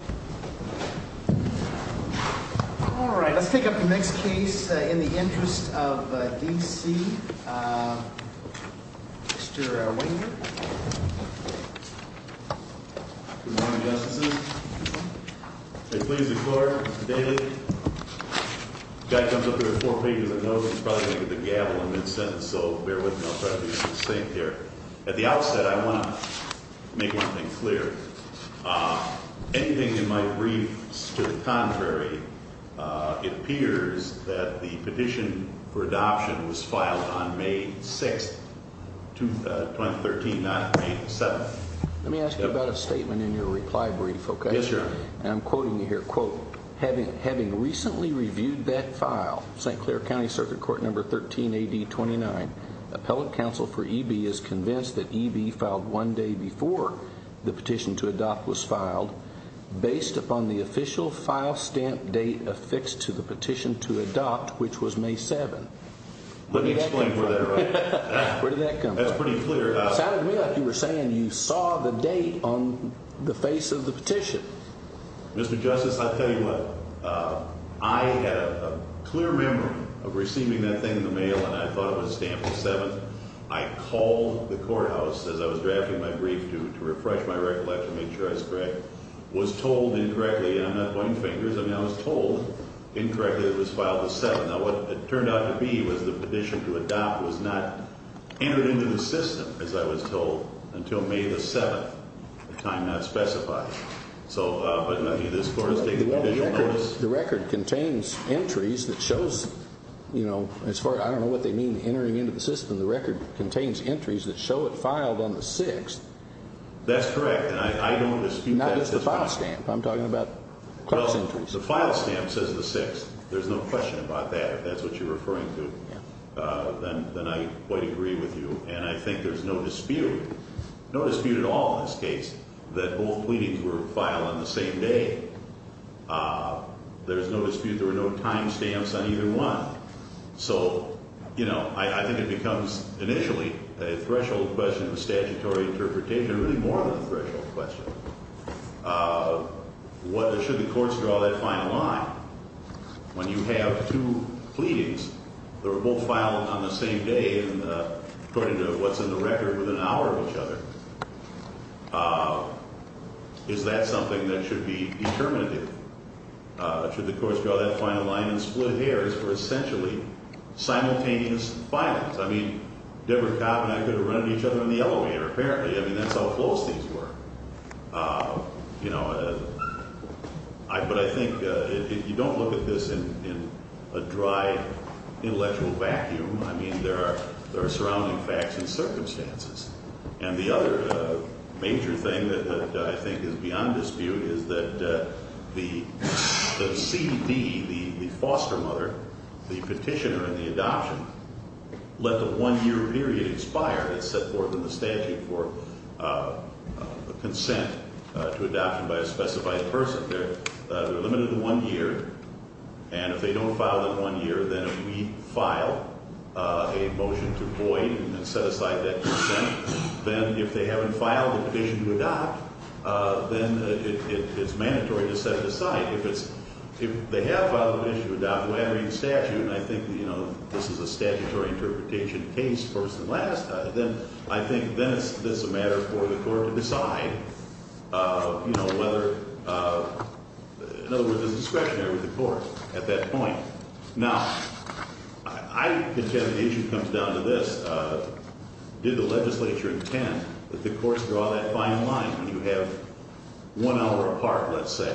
All right, let's pick up the next case, In the Interest of D.C., Mr. Wenger. Good morning, Justices. I plead the court daily. Guy comes up here with four pages of notes, he's probably going to get the gavel in mid-sentence, so bear with me, I'll try to be succinct here. At the outset, I want to make one thing clear. Anything in my briefs to the contrary, it appears that the petition for adoption was filed on May 6th, 2013, not May 7th. Let me ask you about a statement in your reply brief, okay? Yes, sir. And I'm quoting you here, quote, having recently reviewed that file, St. Clair County Circuit Court Number 13, A.D. 29, Appellate Counsel for E.B. is convinced that E.B. filed one day before the petition to adopt was filed, based upon the official file stamp date affixed to the petition to adopt, which was May 7th. Let me explain where that comes from. Where did that come from? That's pretty clear. It sounded to me like you were saying you saw the date on the face of the petition. Mr. Justice, I'll tell you what. I had a clear memory of receiving that thing in the mail, and I thought it was stamped the 7th. I called the courthouse as I was drafting my brief to refresh my recollection, make sure I was correct, was told incorrectly, and I'm not pointing fingers, I mean I was told incorrectly that it was filed the 7th. Now, what it turned out to be was the petition to adopt was not entered into the system, as I was told, until May the 7th, the time not specified. So, but this court has taken the official notice. The record contains entries that shows, you know, as far as I don't know what they mean, entering into the system, the record contains entries that show it filed on the 6th. That's correct, and I don't dispute that. Not just the file stamp. I'm talking about class entries. So file stamp says the 6th. There's no question about that. If that's what you're referring to, then I quite agree with you, and I think there's no dispute, no dispute at all in this case that both pleadings were filed on the same day. There's no dispute. There were no time stamps on either one. So, you know, I think it becomes initially a threshold question of a statutory interpretation, really more than a threshold question. Should the courts draw that final line? When you have two pleadings that were both filed on the same day, and according to what's in the record, within an hour of each other, is that something that should be determinative? Should the courts draw that final line and split hairs for essentially simultaneous filings? I mean, Deborah Kopp and I could have run into each other in the elevator, apparently. I mean, that's how close these were. You know, but I think if you don't look at this in a dry intellectual vacuum, I mean, there are surrounding facts and circumstances. And the other major thing that I think is beyond dispute is that the CD, the foster mother, the petitioner in the adoption, let the one-year period expire. It's set forth in the statute for consent to adoption by a specified person. They're limited to one year. And if they don't file that one year, then if we file a motion to void and set aside that consent, then if they haven't filed the petition to adopt, then it's mandatory to set it aside. If it's – if they have filed the petition to adopt, and I think, you know, this is a statutory interpretation case first and last, then I think then it's a matter for the court to decide, you know, whether – in other words, it's discretionary with the court at that point. Now, I can tell you the issue comes down to this. Did the legislature intend that the courts draw that final line when you have one hour apart, let's say,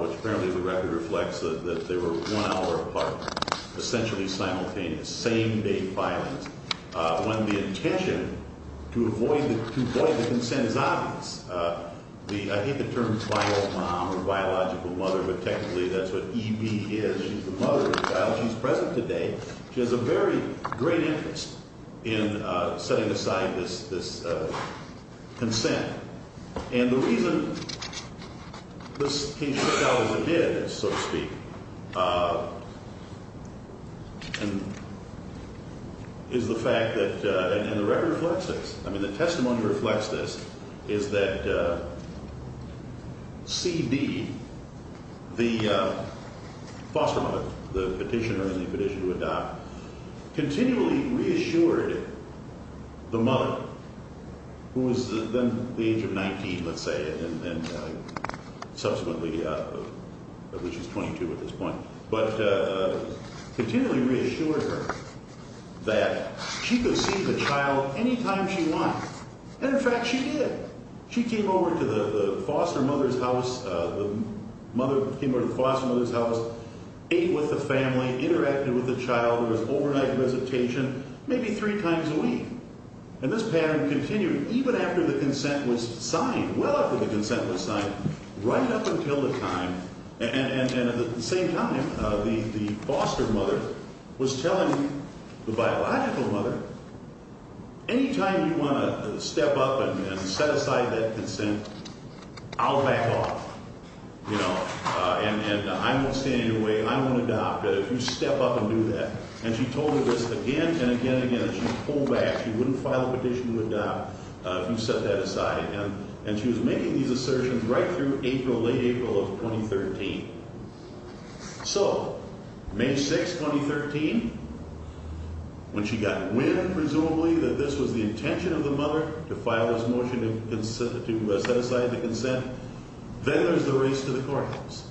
which apparently the record reflects that they were one hour apart, essentially simultaneous, same-day filings, when the intention to avoid the consent is obvious? The – I hate the term final mom or biological mother, but technically that's what EB is. She's the mother of the child. She's present today. She has a very great interest in setting aside this consent. And the reason this case took out as it did, so to speak, is the fact that – and the record reflects this. I mean, the testimony reflects this, is that CD, the foster mother, the petitioner in the petition to adopt, continually reassured the mother, who was then the age of 19, let's say, and then subsequently at least she's 22 at this point, but continually reassured her that she could see the child anytime she wanted. And, in fact, she did. She came over to the foster mother's house. The mother came over to the foster mother's house, ate with the family, interacted with the child, there was overnight visitation maybe three times a week. And this pattern continued even after the consent was signed, well after the consent was signed, right up until the time – and at the same time, the foster mother was telling the biological mother, anytime you want to step up and set aside that consent, I'll back off, you know, and I won't stand in your way, I won't adopt. If you step up and do that. And she told her this again and again and again, and she pulled back. She wouldn't file a petition to adopt if you set that aside. And she was making these assertions right through April, late April of 2013. So, May 6, 2013, when she got wind, presumably, that this was the intention of the mother, to file this motion to set aside the consent, then there's the race to the courthouse.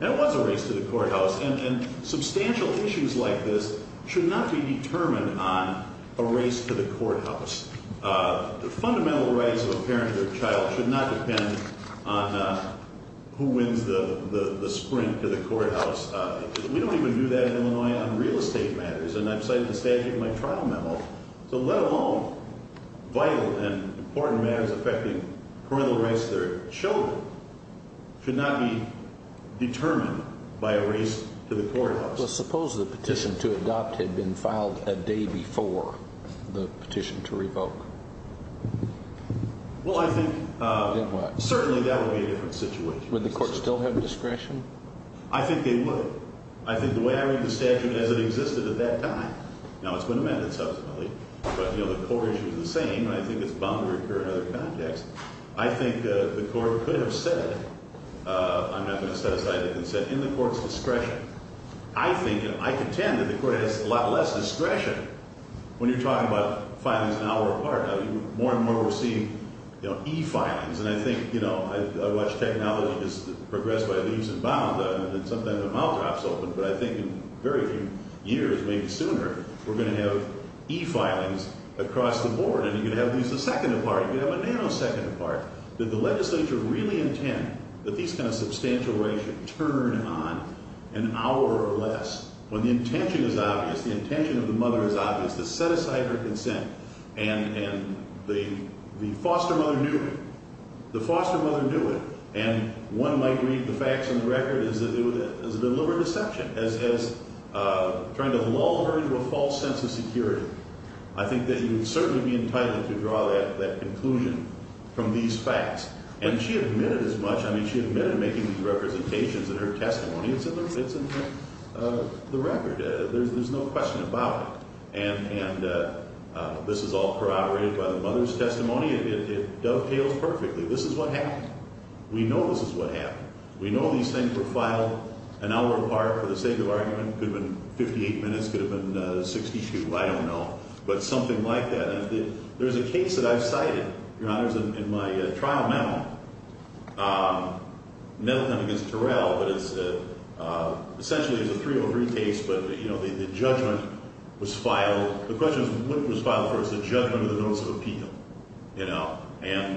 And it was a race to the courthouse. And substantial issues like this should not be determined on a race to the courthouse. Fundamental rights of a parent or child should not depend on who wins the sprint to the courthouse. We don't even do that in Illinois on real estate matters. And I've cited the statute in my trial memo. So let alone vital and important matters affecting parental rights to their children should not be determined by a race to the courthouse. Well, suppose the petition to adopt had been filed a day before the petition to revoke. Well, I think certainly that would be a different situation. Would the court still have discretion? I think they would. I think the way I read the statute as it existed at that time, now it's been amended subsequently, but, you know, the core issue is the same, and I think it's bound to occur in other contexts. I think the court could have said, I'm not going to set aside the consent, in the court's discretion. I think and I contend that the court has a lot less discretion when you're talking about filings an hour apart. More and more we're seeing, you know, e-filings. And I think, you know, I watch technology just progress by leaps and bounds. But I think in very few years, maybe sooner, we're going to have e-filings across the board, and you're going to have these a second apart. You're going to have a nanosecond apart. Did the legislature really intend that these kind of substantial rights should turn on an hour or less when the intention is obvious, the intention of the mother is obvious, to set aside her consent? And the foster mother knew it. The foster mother knew it. And one might read the facts on the record as a deliberate deception, as trying to lull her into a false sense of security. I think that you would certainly be entitled to draw that conclusion from these facts. And she admitted as much. I mean, she admitted making these representations in her testimony. It's in the record. There's no question about it. And this is all corroborated by the mother's testimony. It dovetails perfectly. This is what happened. We know this is what happened. We know these things were filed an hour apart for the sake of argument. It could have been 58 minutes. It could have been 62. I don't know. But something like that. And there's a case that I've cited, Your Honors, in my trial memo, never done against Terrell, but it's essentially a 303 case, but, you know, the judgment was filed. The question is what it was filed for. It's the judgment of the notice of appeal, you know. And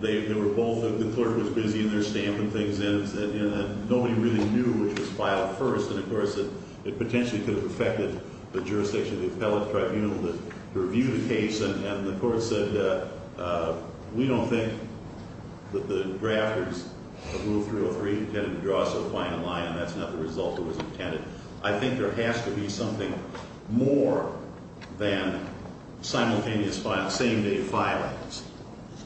they were both, the clerk was busy in there stamping things in. Nobody really knew which was filed first. And, of course, it potentially could have affected the jurisdiction of the appellate tribunal to review the case. And the court said, we don't think that the drafters of Rule 303 intended to draw so fine a line, and that's not the result that was intended. I think there has to be something more than simultaneous same-day filings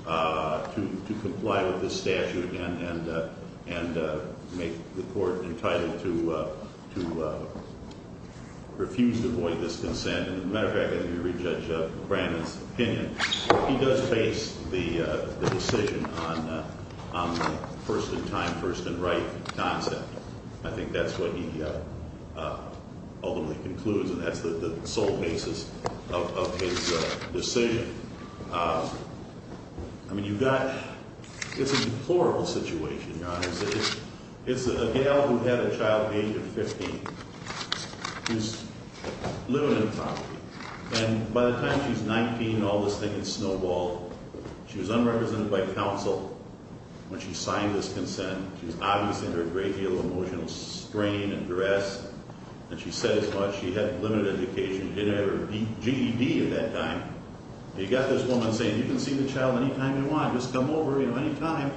to comply with this statute and make the court entitled to refuse to void this consent. And, as a matter of fact, let me re-judge Brandon's opinion. He does base the decision on the first-in-time, first-in-right concept. I think that's what he ultimately concludes, and that's the sole basis of his decision. I mean, you've got, it's a deplorable situation, Your Honor. It's a gal who had a child age of 15 who's living on the property. And by the time she's 19 and all this thing has snowballed, she was unrepresented by counsel when she signed this consent. She was obviously under a great deal of emotional strain and duress. And she said as much. She had limited education. She didn't have her GED at that time. And you've got this woman saying, you can see the child any time you want. Just come over any time.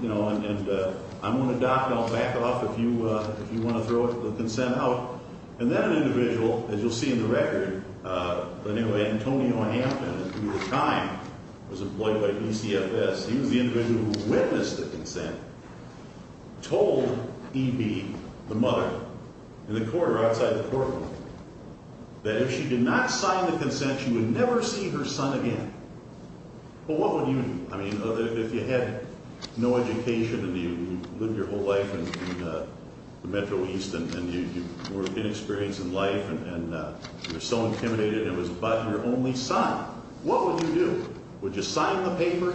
You know, and I'm going to dock, and I'll back off if you want to throw the consent out. And then an individual, as you'll see in the record, Antonio Hampton, who at the time was employed by PCFS, he was the individual who witnessed the consent, told EB, the mother, in the court or outside the courtroom, that if she did not sign the consent, she would never see her son again. Well, what would you do? I mean, if you had no education and you lived your whole life in the Metro East and you were inexperienced in life and you were so intimidated and it was about your only son, what would you do? Would you sign the paper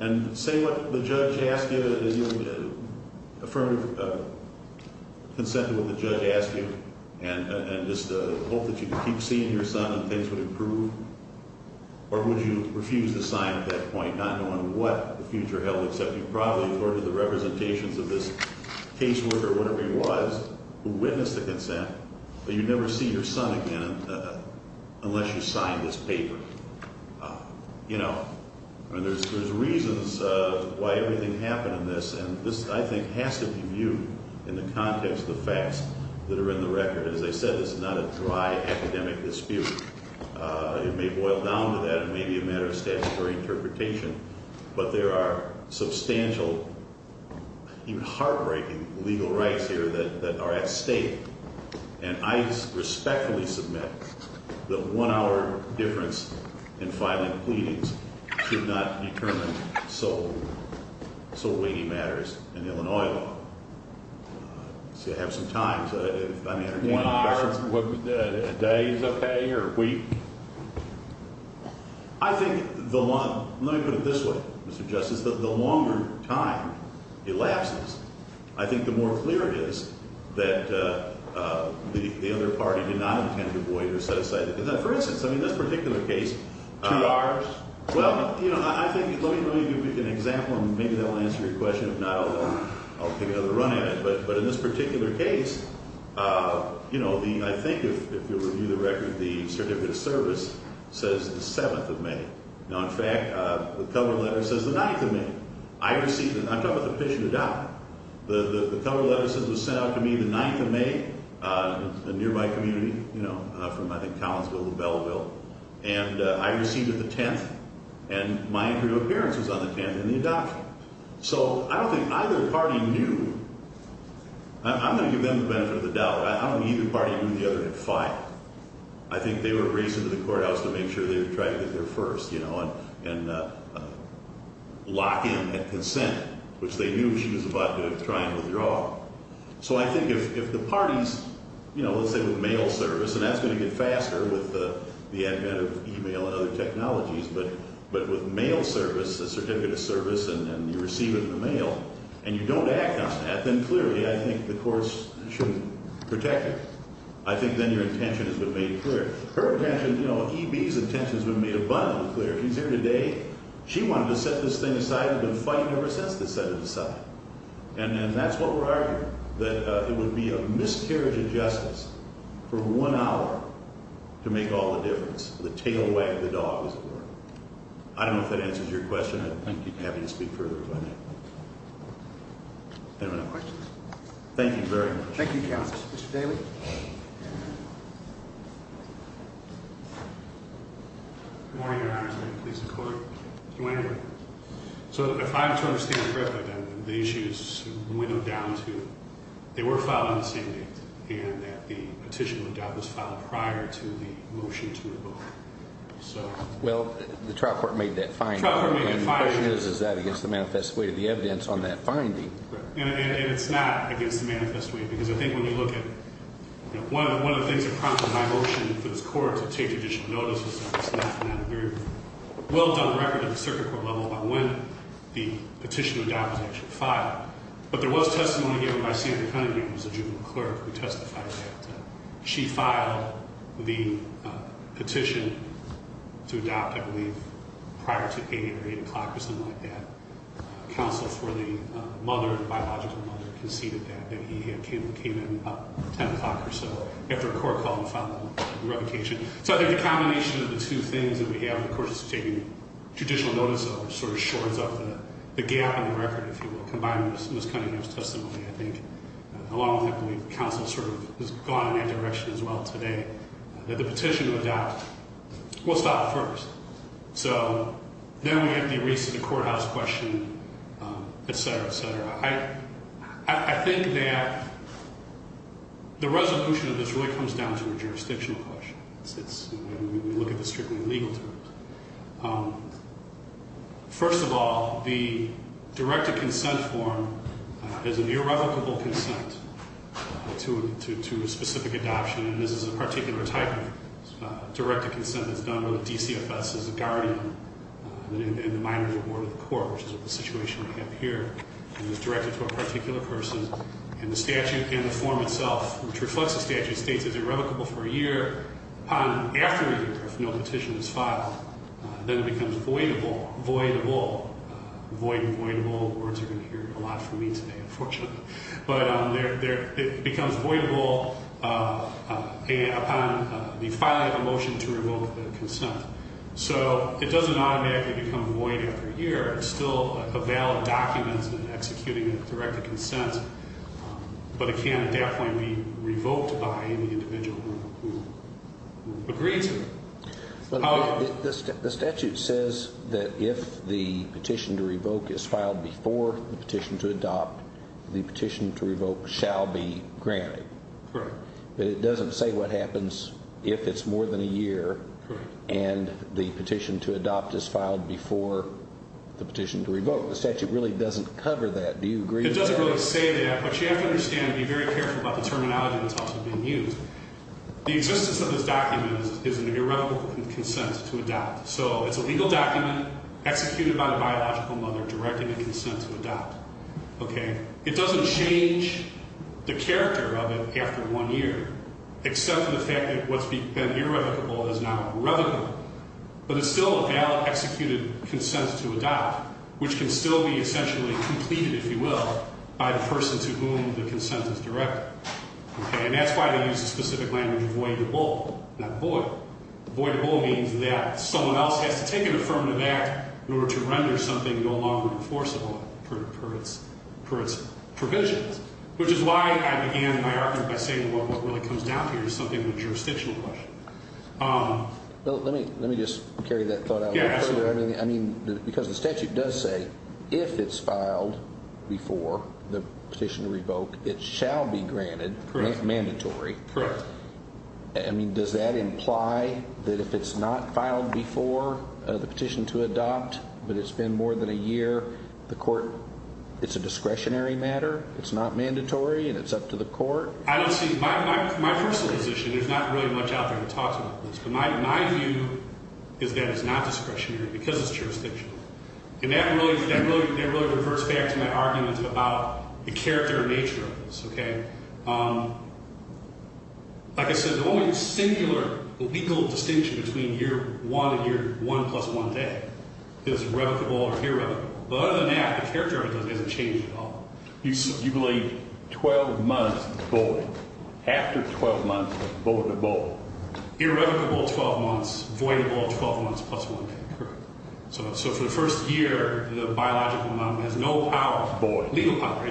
and say what the judge asked you, affirm the consent to what the judge asked you and just hope that you could keep seeing your son and things would improve? Or would you refuse to sign at that point, not knowing what the future held, except you probably ordered the representations of this caseworker, whatever he was, who witnessed the consent, that you'd never see your son again unless you signed this paper? You know, I mean, there's reasons why everything happened in this. And this, I think, has to be viewed in the context of the facts that are in the record. As I said, this is not a dry academic dispute. It may boil down to that. It may be a matter of statutory interpretation. But there are substantial, even heartbreaking, legal rights here that are at stake. And I respectfully submit that one-hour difference in filing pleadings should not determine so weighty matters in Illinois law. So you'll have some time. One hour a day is okay or a week? I think the long – let me put it this way, Mr. Justice. The longer time elapses, I think the more clear it is that the other party did not intend to void or set aside – for instance, I mean, this particular case – Two hours? Well, you know, I think – let me give you an example, and maybe that will answer your question. If not, I'll take another run at it. But in this particular case, you know, the – I think, if you'll review the record, the certificate of service says the 7th of May. Now, in fact, the cover letter says the 9th of May. I received it. I'm talking about the petition to die. The cover letter says it was sent out to me the 9th of May, a nearby community, you know, from, I think, Collinsville to Belleville. And I received it the 10th, and my imperial appearance was on the 10th in the adoption. So I don't think either party knew – I'm going to give them the benefit of the doubt. I don't think either party knew the other had filed. I think they were racing to the courthouse to make sure they were trying to get there first, you know, and lock in at consent, which they knew she was about to try and withdraw. So I think if the parties, you know, let's say with mail service, and that's going to get faster with the advent of e-mail and other technologies, but with mail service, a certificate of service, and you receive it in the mail, and you don't act on that, then clearly I think the courts shouldn't protect her. I think then your intention has been made clear. Her intention, you know, EB's intention has been made abundantly clear. She's here today. She wanted to set this thing aside. We've been fighting ever since to set it aside. And that's what we're arguing, that it would be a miscarriage of justice for one hour to make all the difference. The tail wag of the dog is the word. I don't know if that answers your question. I'd be happy to speak further if I may. Anyone have questions? Thank you very much. Thank you, counsel. Mr. Daley. Good morning, Your Honor. Is there any police in court? You may enter. So if I'm to understand correctly, then the issue is winnowed down to they were filed on the same date, and that the petition was filed prior to the motion to revoke. Well, the trial court made that finding. And the question is, is that against the manifest way of the evidence on that finding? And it's not against the manifest way, because I think when you look at it, one of the things that prompted my motion for this court to take additional notice is that it's not a very well-done record at the circuit court level about when the petition was actually filed. But there was testimony here by Sandra Cunningham, who's a juvenile clerk, who testified that she filed the petition to adopt, I believe, prior to 8 or 8 o'clock or something like that. Counsel for the biological mother conceded that he came in about 10 o'clock or so after a court call and filed the revocation. So I think the combination of the two things that we have, of course, is taking additional notice of, sort of shorts off the gap in the record, if you will, combined with Ms. Cunningham's testimony, I think, along with, I believe, counsel sort of has gone in that direction as well today, that the petition to adopt will stop first. So then we have the recent courthouse question, et cetera, et cetera. I think that the resolution of this really comes down to a jurisdictional question. It's when we look at the strictly legal terms. First of all, the directed consent form is an irrevocable consent to a specific adoption. And this is a particular type of directed consent that's done with the DCFS as a guardian in the minority board of the court, which is what the situation we have here, and is directed to a particular person. And the statute and the form itself, which reflects the statute, states it's irrevocable for a year. Upon, after a year, if no petition is filed, then it becomes voidable, voidable. Void and voidable words are going to hear a lot from me today, unfortunately. But it becomes voidable upon the filing of a motion to revoke the consent. So it doesn't automatically become void after a year. It's still a valid document in executing a directed consent. But it can, at that point, be revoked by an individual who agrees to it. The statute says that if the petition to revoke is filed before the petition to adopt, the petition to revoke shall be granted. Correct. But it doesn't say what happens if it's more than a year and the petition to adopt is filed before the petition to revoke. The statute really doesn't cover that. Do you agree with that? It doesn't really say that. But you have to understand and be very careful about the terminology that's also being used. The existence of this document is an irrevocable consent to adopt. So it's a legal document executed by the biological mother directing the consent to adopt. Okay? It doesn't change the character of it after one year, except for the fact that what's been irrevocable is now irrevocable. But it's still a valid executed consent to adopt, which can still be essentially completed, if you will, by the person to whom the consent is directed. Okay? And that's why they use the specific language of voidable, not void. Which is why I began my argument by saying what really comes down to here is something of a jurisdictional question. Well, let me just carry that thought out. Yeah, absolutely. I mean, because the statute does say if it's filed before the petition to revoke, it shall be granted. Correct. Not mandatory. Correct. I mean, does that imply that if it's not filed before the petition to adopt, but it's been more than a year, the court, it's a discretionary matter, it's not mandatory, and it's up to the court? I don't see my personal position. There's not really much out there that talks about this. But my view is that it's not discretionary because it's jurisdictional. And that really refers back to my argument about the character and nature of this. Okay? Like I said, the only singular legal distinction between year one and year one plus one day is irrevocable or irrevocable. But other than that, the character of it doesn't change at all. You believe 12 months void. After 12 months, it's voidable. Irrevocable 12 months, voidable 12 months plus one day. Correct. So for the first year, the biological mom has no power. Void. Legal power.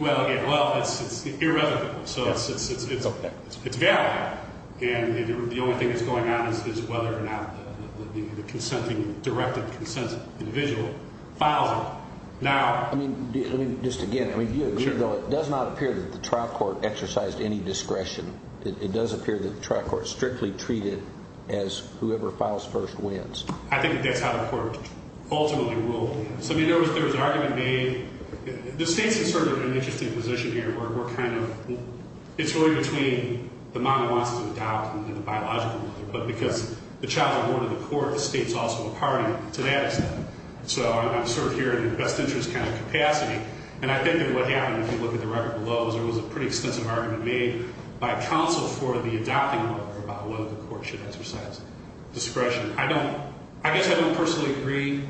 Well, it's irrevocable. So it's valid. And the only thing that's going on is whether or not the direct consent of the individual files it. Now. Let me just again. Do you agree, though, it does not appear that the trial court exercised any discretion. It does appear that the trial court strictly treated it as whoever files first wins. I think that's how the court ultimately ruled. So there was an argument made. The state's in sort of an interesting position here. It's really between the mom who wants to adopt and the biological mother. But because the child's a board of the court, the state's also a party to that extent. So I'm sort of here in a best interest kind of capacity. And I think that what happened, if you look at the record below, is there was a pretty extensive argument made by counsel for the adopting mother about whether the court should exercise discretion. I guess I don't personally agree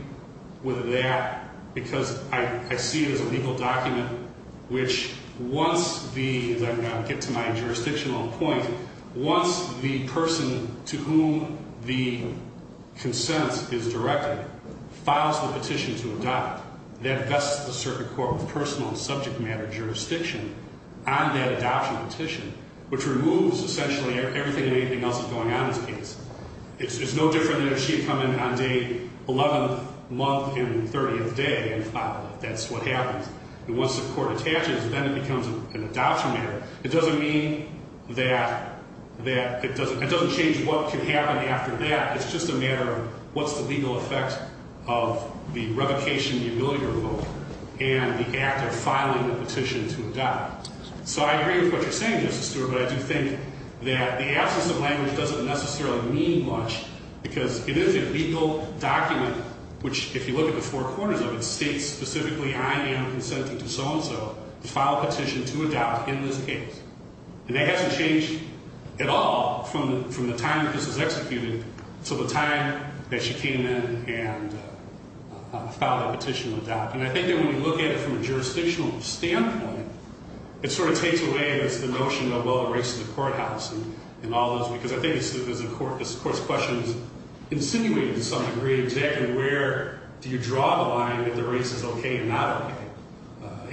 with that. Because I see it as a legal document which wants the, as I get to my jurisdictional point, wants the person to whom the consent is directed, files the petition to adopt. That vests the circuit court with personal and subject matter jurisdiction on that adoption petition, which removes essentially everything and anything else that's going on in this case. It's no different than if she had come in on day 11, month and 30 of the day and filed it. That's what happens. And once the court attaches, then it becomes an adoption matter. It doesn't mean that it doesn't change what can happen after that. It's just a matter of what's the legal effect of the revocation, the ability to revoke, and the act of filing the petition to adopt. So I agree with what you're saying, Justice Stewart, but I do think that the absence of language doesn't necessarily mean much. Because it is a legal document which, if you look at the four corners of it, states specifically I am consenting to so-and-so to file a petition to adopt in this case. And that hasn't changed at all from the time that this was executed to the time that she came in and filed that petition to adopt. And I think that when we look at it from a jurisdictional standpoint, it sort of takes away the notion of, well, the race in the courthouse and all this. Because I think this court's question is insinuating to some degree exactly where do you draw the line if the race is okay or not okay.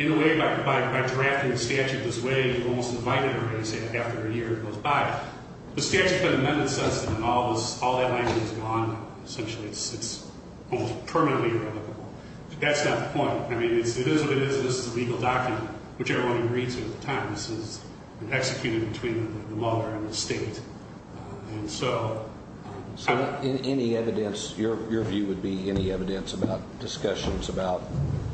In a way, by drafting the statute this way, you've almost invited a race after a year goes by. The statute's been amended since then. All that language is gone, essentially. It's almost permanently irrelevant. That's not the point. I mean, it is what it is. This is a legal document, which everyone agrees with at the time. This has been executed between the mother and the state. And so any evidence, your view would be any evidence about discussions about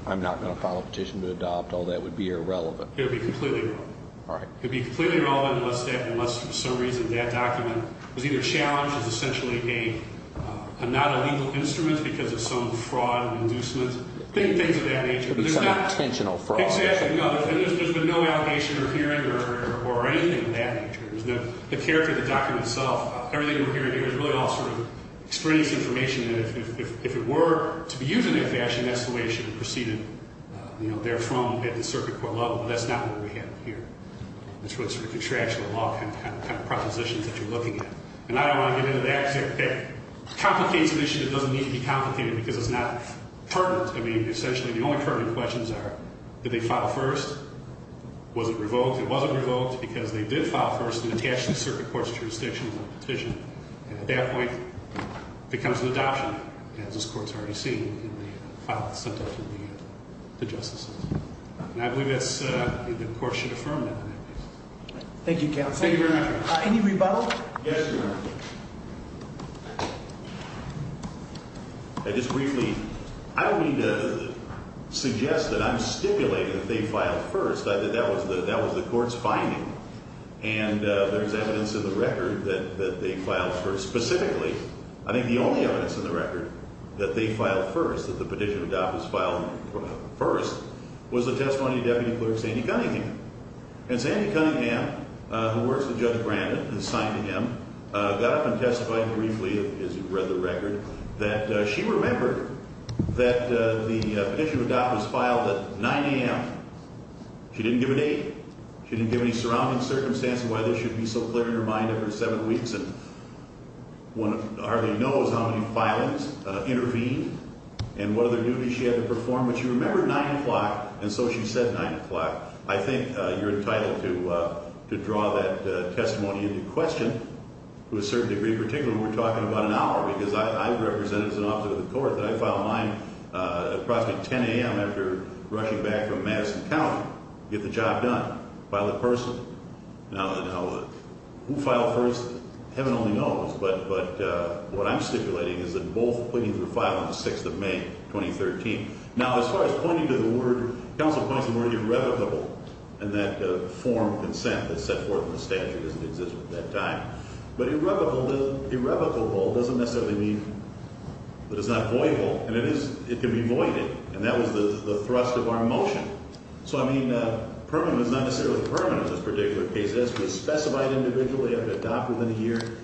I'm not going to file a petition to adopt, all that would be irrelevant. It would be completely irrelevant. All right. It would be completely irrelevant unless for some reason that document was either challenged as essentially not a legal instrument because of some fraud or inducement, things of that nature. It would be some intentional fraud. Exactly. No, there's been no allegation or hearing or anything of that nature. The character of the document itself, everything we're hearing here is really all sort of extraneous information that if it were to be used in that fashion, that's the way it should have proceeded, you know, therefrom at the circuit court level. But that's not what we have here. That's what sort of contradicts the law kind of propositions that you're looking at. And I don't want to get into that because it complicates the issue. It doesn't need to be complicated because it's not pertinent. I mean, essentially the only pertinent questions are did they file first? Was it revoked? It wasn't revoked because they did file first and attach the circuit court's jurisdiction to the petition. And at that point it becomes an adoption as this court's already seen in the file that's sent out to the justices. And I believe that the court should affirm that. Thank you, counsel. Thank you very much. Any rebuttal? Yes, Your Honor. Just briefly, I don't need to suggest that I'm stipulating that they filed first. That was the court's finding. And there's evidence in the record that they filed first. Specifically, I think the only evidence in the record that they filed first, that the petition adopters filed first, was the testimony of Deputy Clerk Sandy Cunningham. And Sandy Cunningham, who works with Judge Brandon and signed to him, got up and testified briefly, as you've read the record, that she remembered that the petition adopters filed at 9 a.m. She didn't give an date. She didn't give any surrounding circumstance of why this should be so clear in her mind every seven weeks. And one hardly knows how many filings intervened and what other duties she had to perform. But she remembered 9 o'clock, and so she said 9 o'clock. I think you're entitled to draw that testimony into question to a certain degree, particularly when we're talking about an hour, because I represented as an officer of the court that I filed mine approximately 10 a.m. after rushing back from Madison County to get the job done. File it personally. Now, who filed first? Heaven only knows. But what I'm stipulating is that both pleadings were filed on the 6th of May, 2013. Now, as far as pointing to the word, counsel points to the word irrevocable, and that form of consent that's set forth in the statute doesn't exist at that time. But irrevocable doesn't necessarily mean that it's not voyeable, and it can be voided. And that was the thrust of our motion. So, I mean, permanent is not necessarily permanent in this particular case. It has to be specified individually, have it adopted within a year.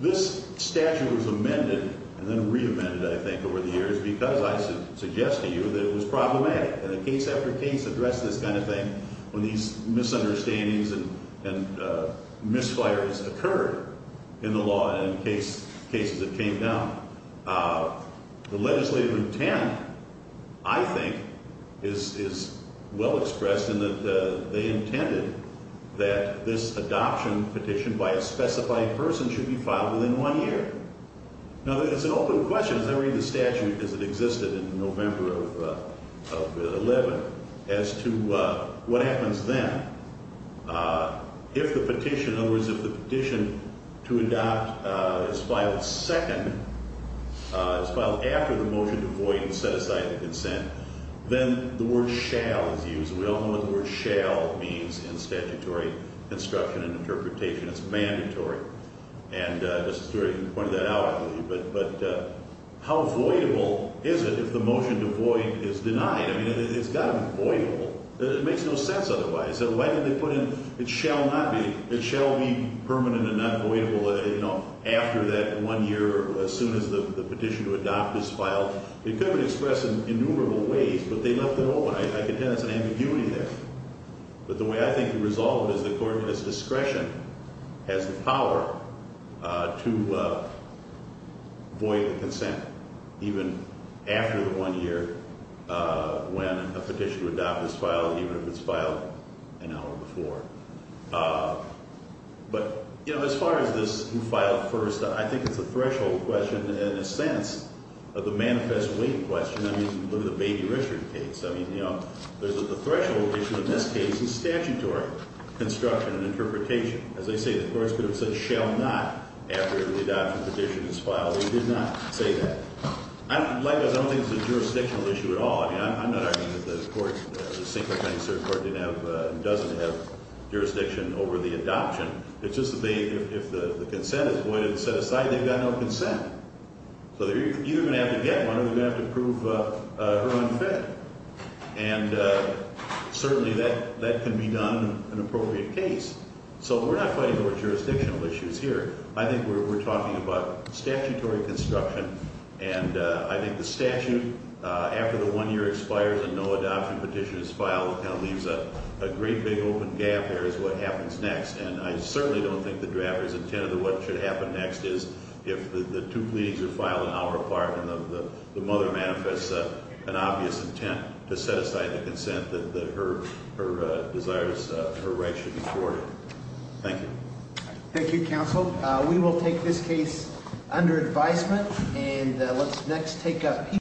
This statute was amended and then re-amended, I think, over the years because I suggested to you that it was problematic, and the case after case addressed this kind of thing when these misunderstandings and misfires occurred in the law and in cases that came down. The legislative intent, I think, is well expressed in that they intended that this adoption petition by a specified person should be filed within one year. Now, it's an open question, as I read the statute as it existed in November of 2011, as to what happens then. If the petition, in other words, if the petition to adopt is filed second, is filed after the motion to void and set aside the consent, then the word shall is used. We all know what the word shall means in statutory instruction and interpretation. It's mandatory. And Mr. Stewart, you pointed that out, I believe. But how voidable is it if the motion to void is denied? I mean, it's got to be voidable. It makes no sense otherwise. So why didn't they put in it shall not be, it shall be permanent and not voidable, you know, after that one year or as soon as the petition to adopt is filed? It could have been expressed in innumerable ways, but they left it open. I contend there's an ambiguity there. But the way I think it resolved is the court has discretion, has the power to void the consent, even after the one year when a petition to adopt is filed, even if it's filed an hour before. But, you know, as far as this who filed first, I think it's a threshold question in a sense of the manifest weight question. I mean, look at the Baby Richard case. I mean, you know, there's a threshold issue in this case in statutory construction and interpretation. As I say, the courts could have said shall not after the adoption petition is filed. They did not say that. Likewise, I don't think it's a jurisdictional issue at all. I mean, I'm not arguing that the courts, the single-penny cert court didn't have and doesn't have jurisdiction over the adoption. It's just that if the consent is voided and set aside, they've got no consent. So they're either going to have to get one or they're going to have to prove her unfit. And certainly that can be done in an appropriate case. So we're not fighting over jurisdictional issues here. I think we're talking about statutory construction, and I think the statute after the one year expires and no adoption petition is filed kind of leaves a great big open gap there as to what happens next. And I certainly don't think the drafter's intent of what should happen next is if the two pleadings are filed in our apartment and the mother manifests an obvious intent to set aside the consent that her desires, her rights should be thwarted. Thank you. Thank you, counsel. We will take this case under advisement. And let's next take up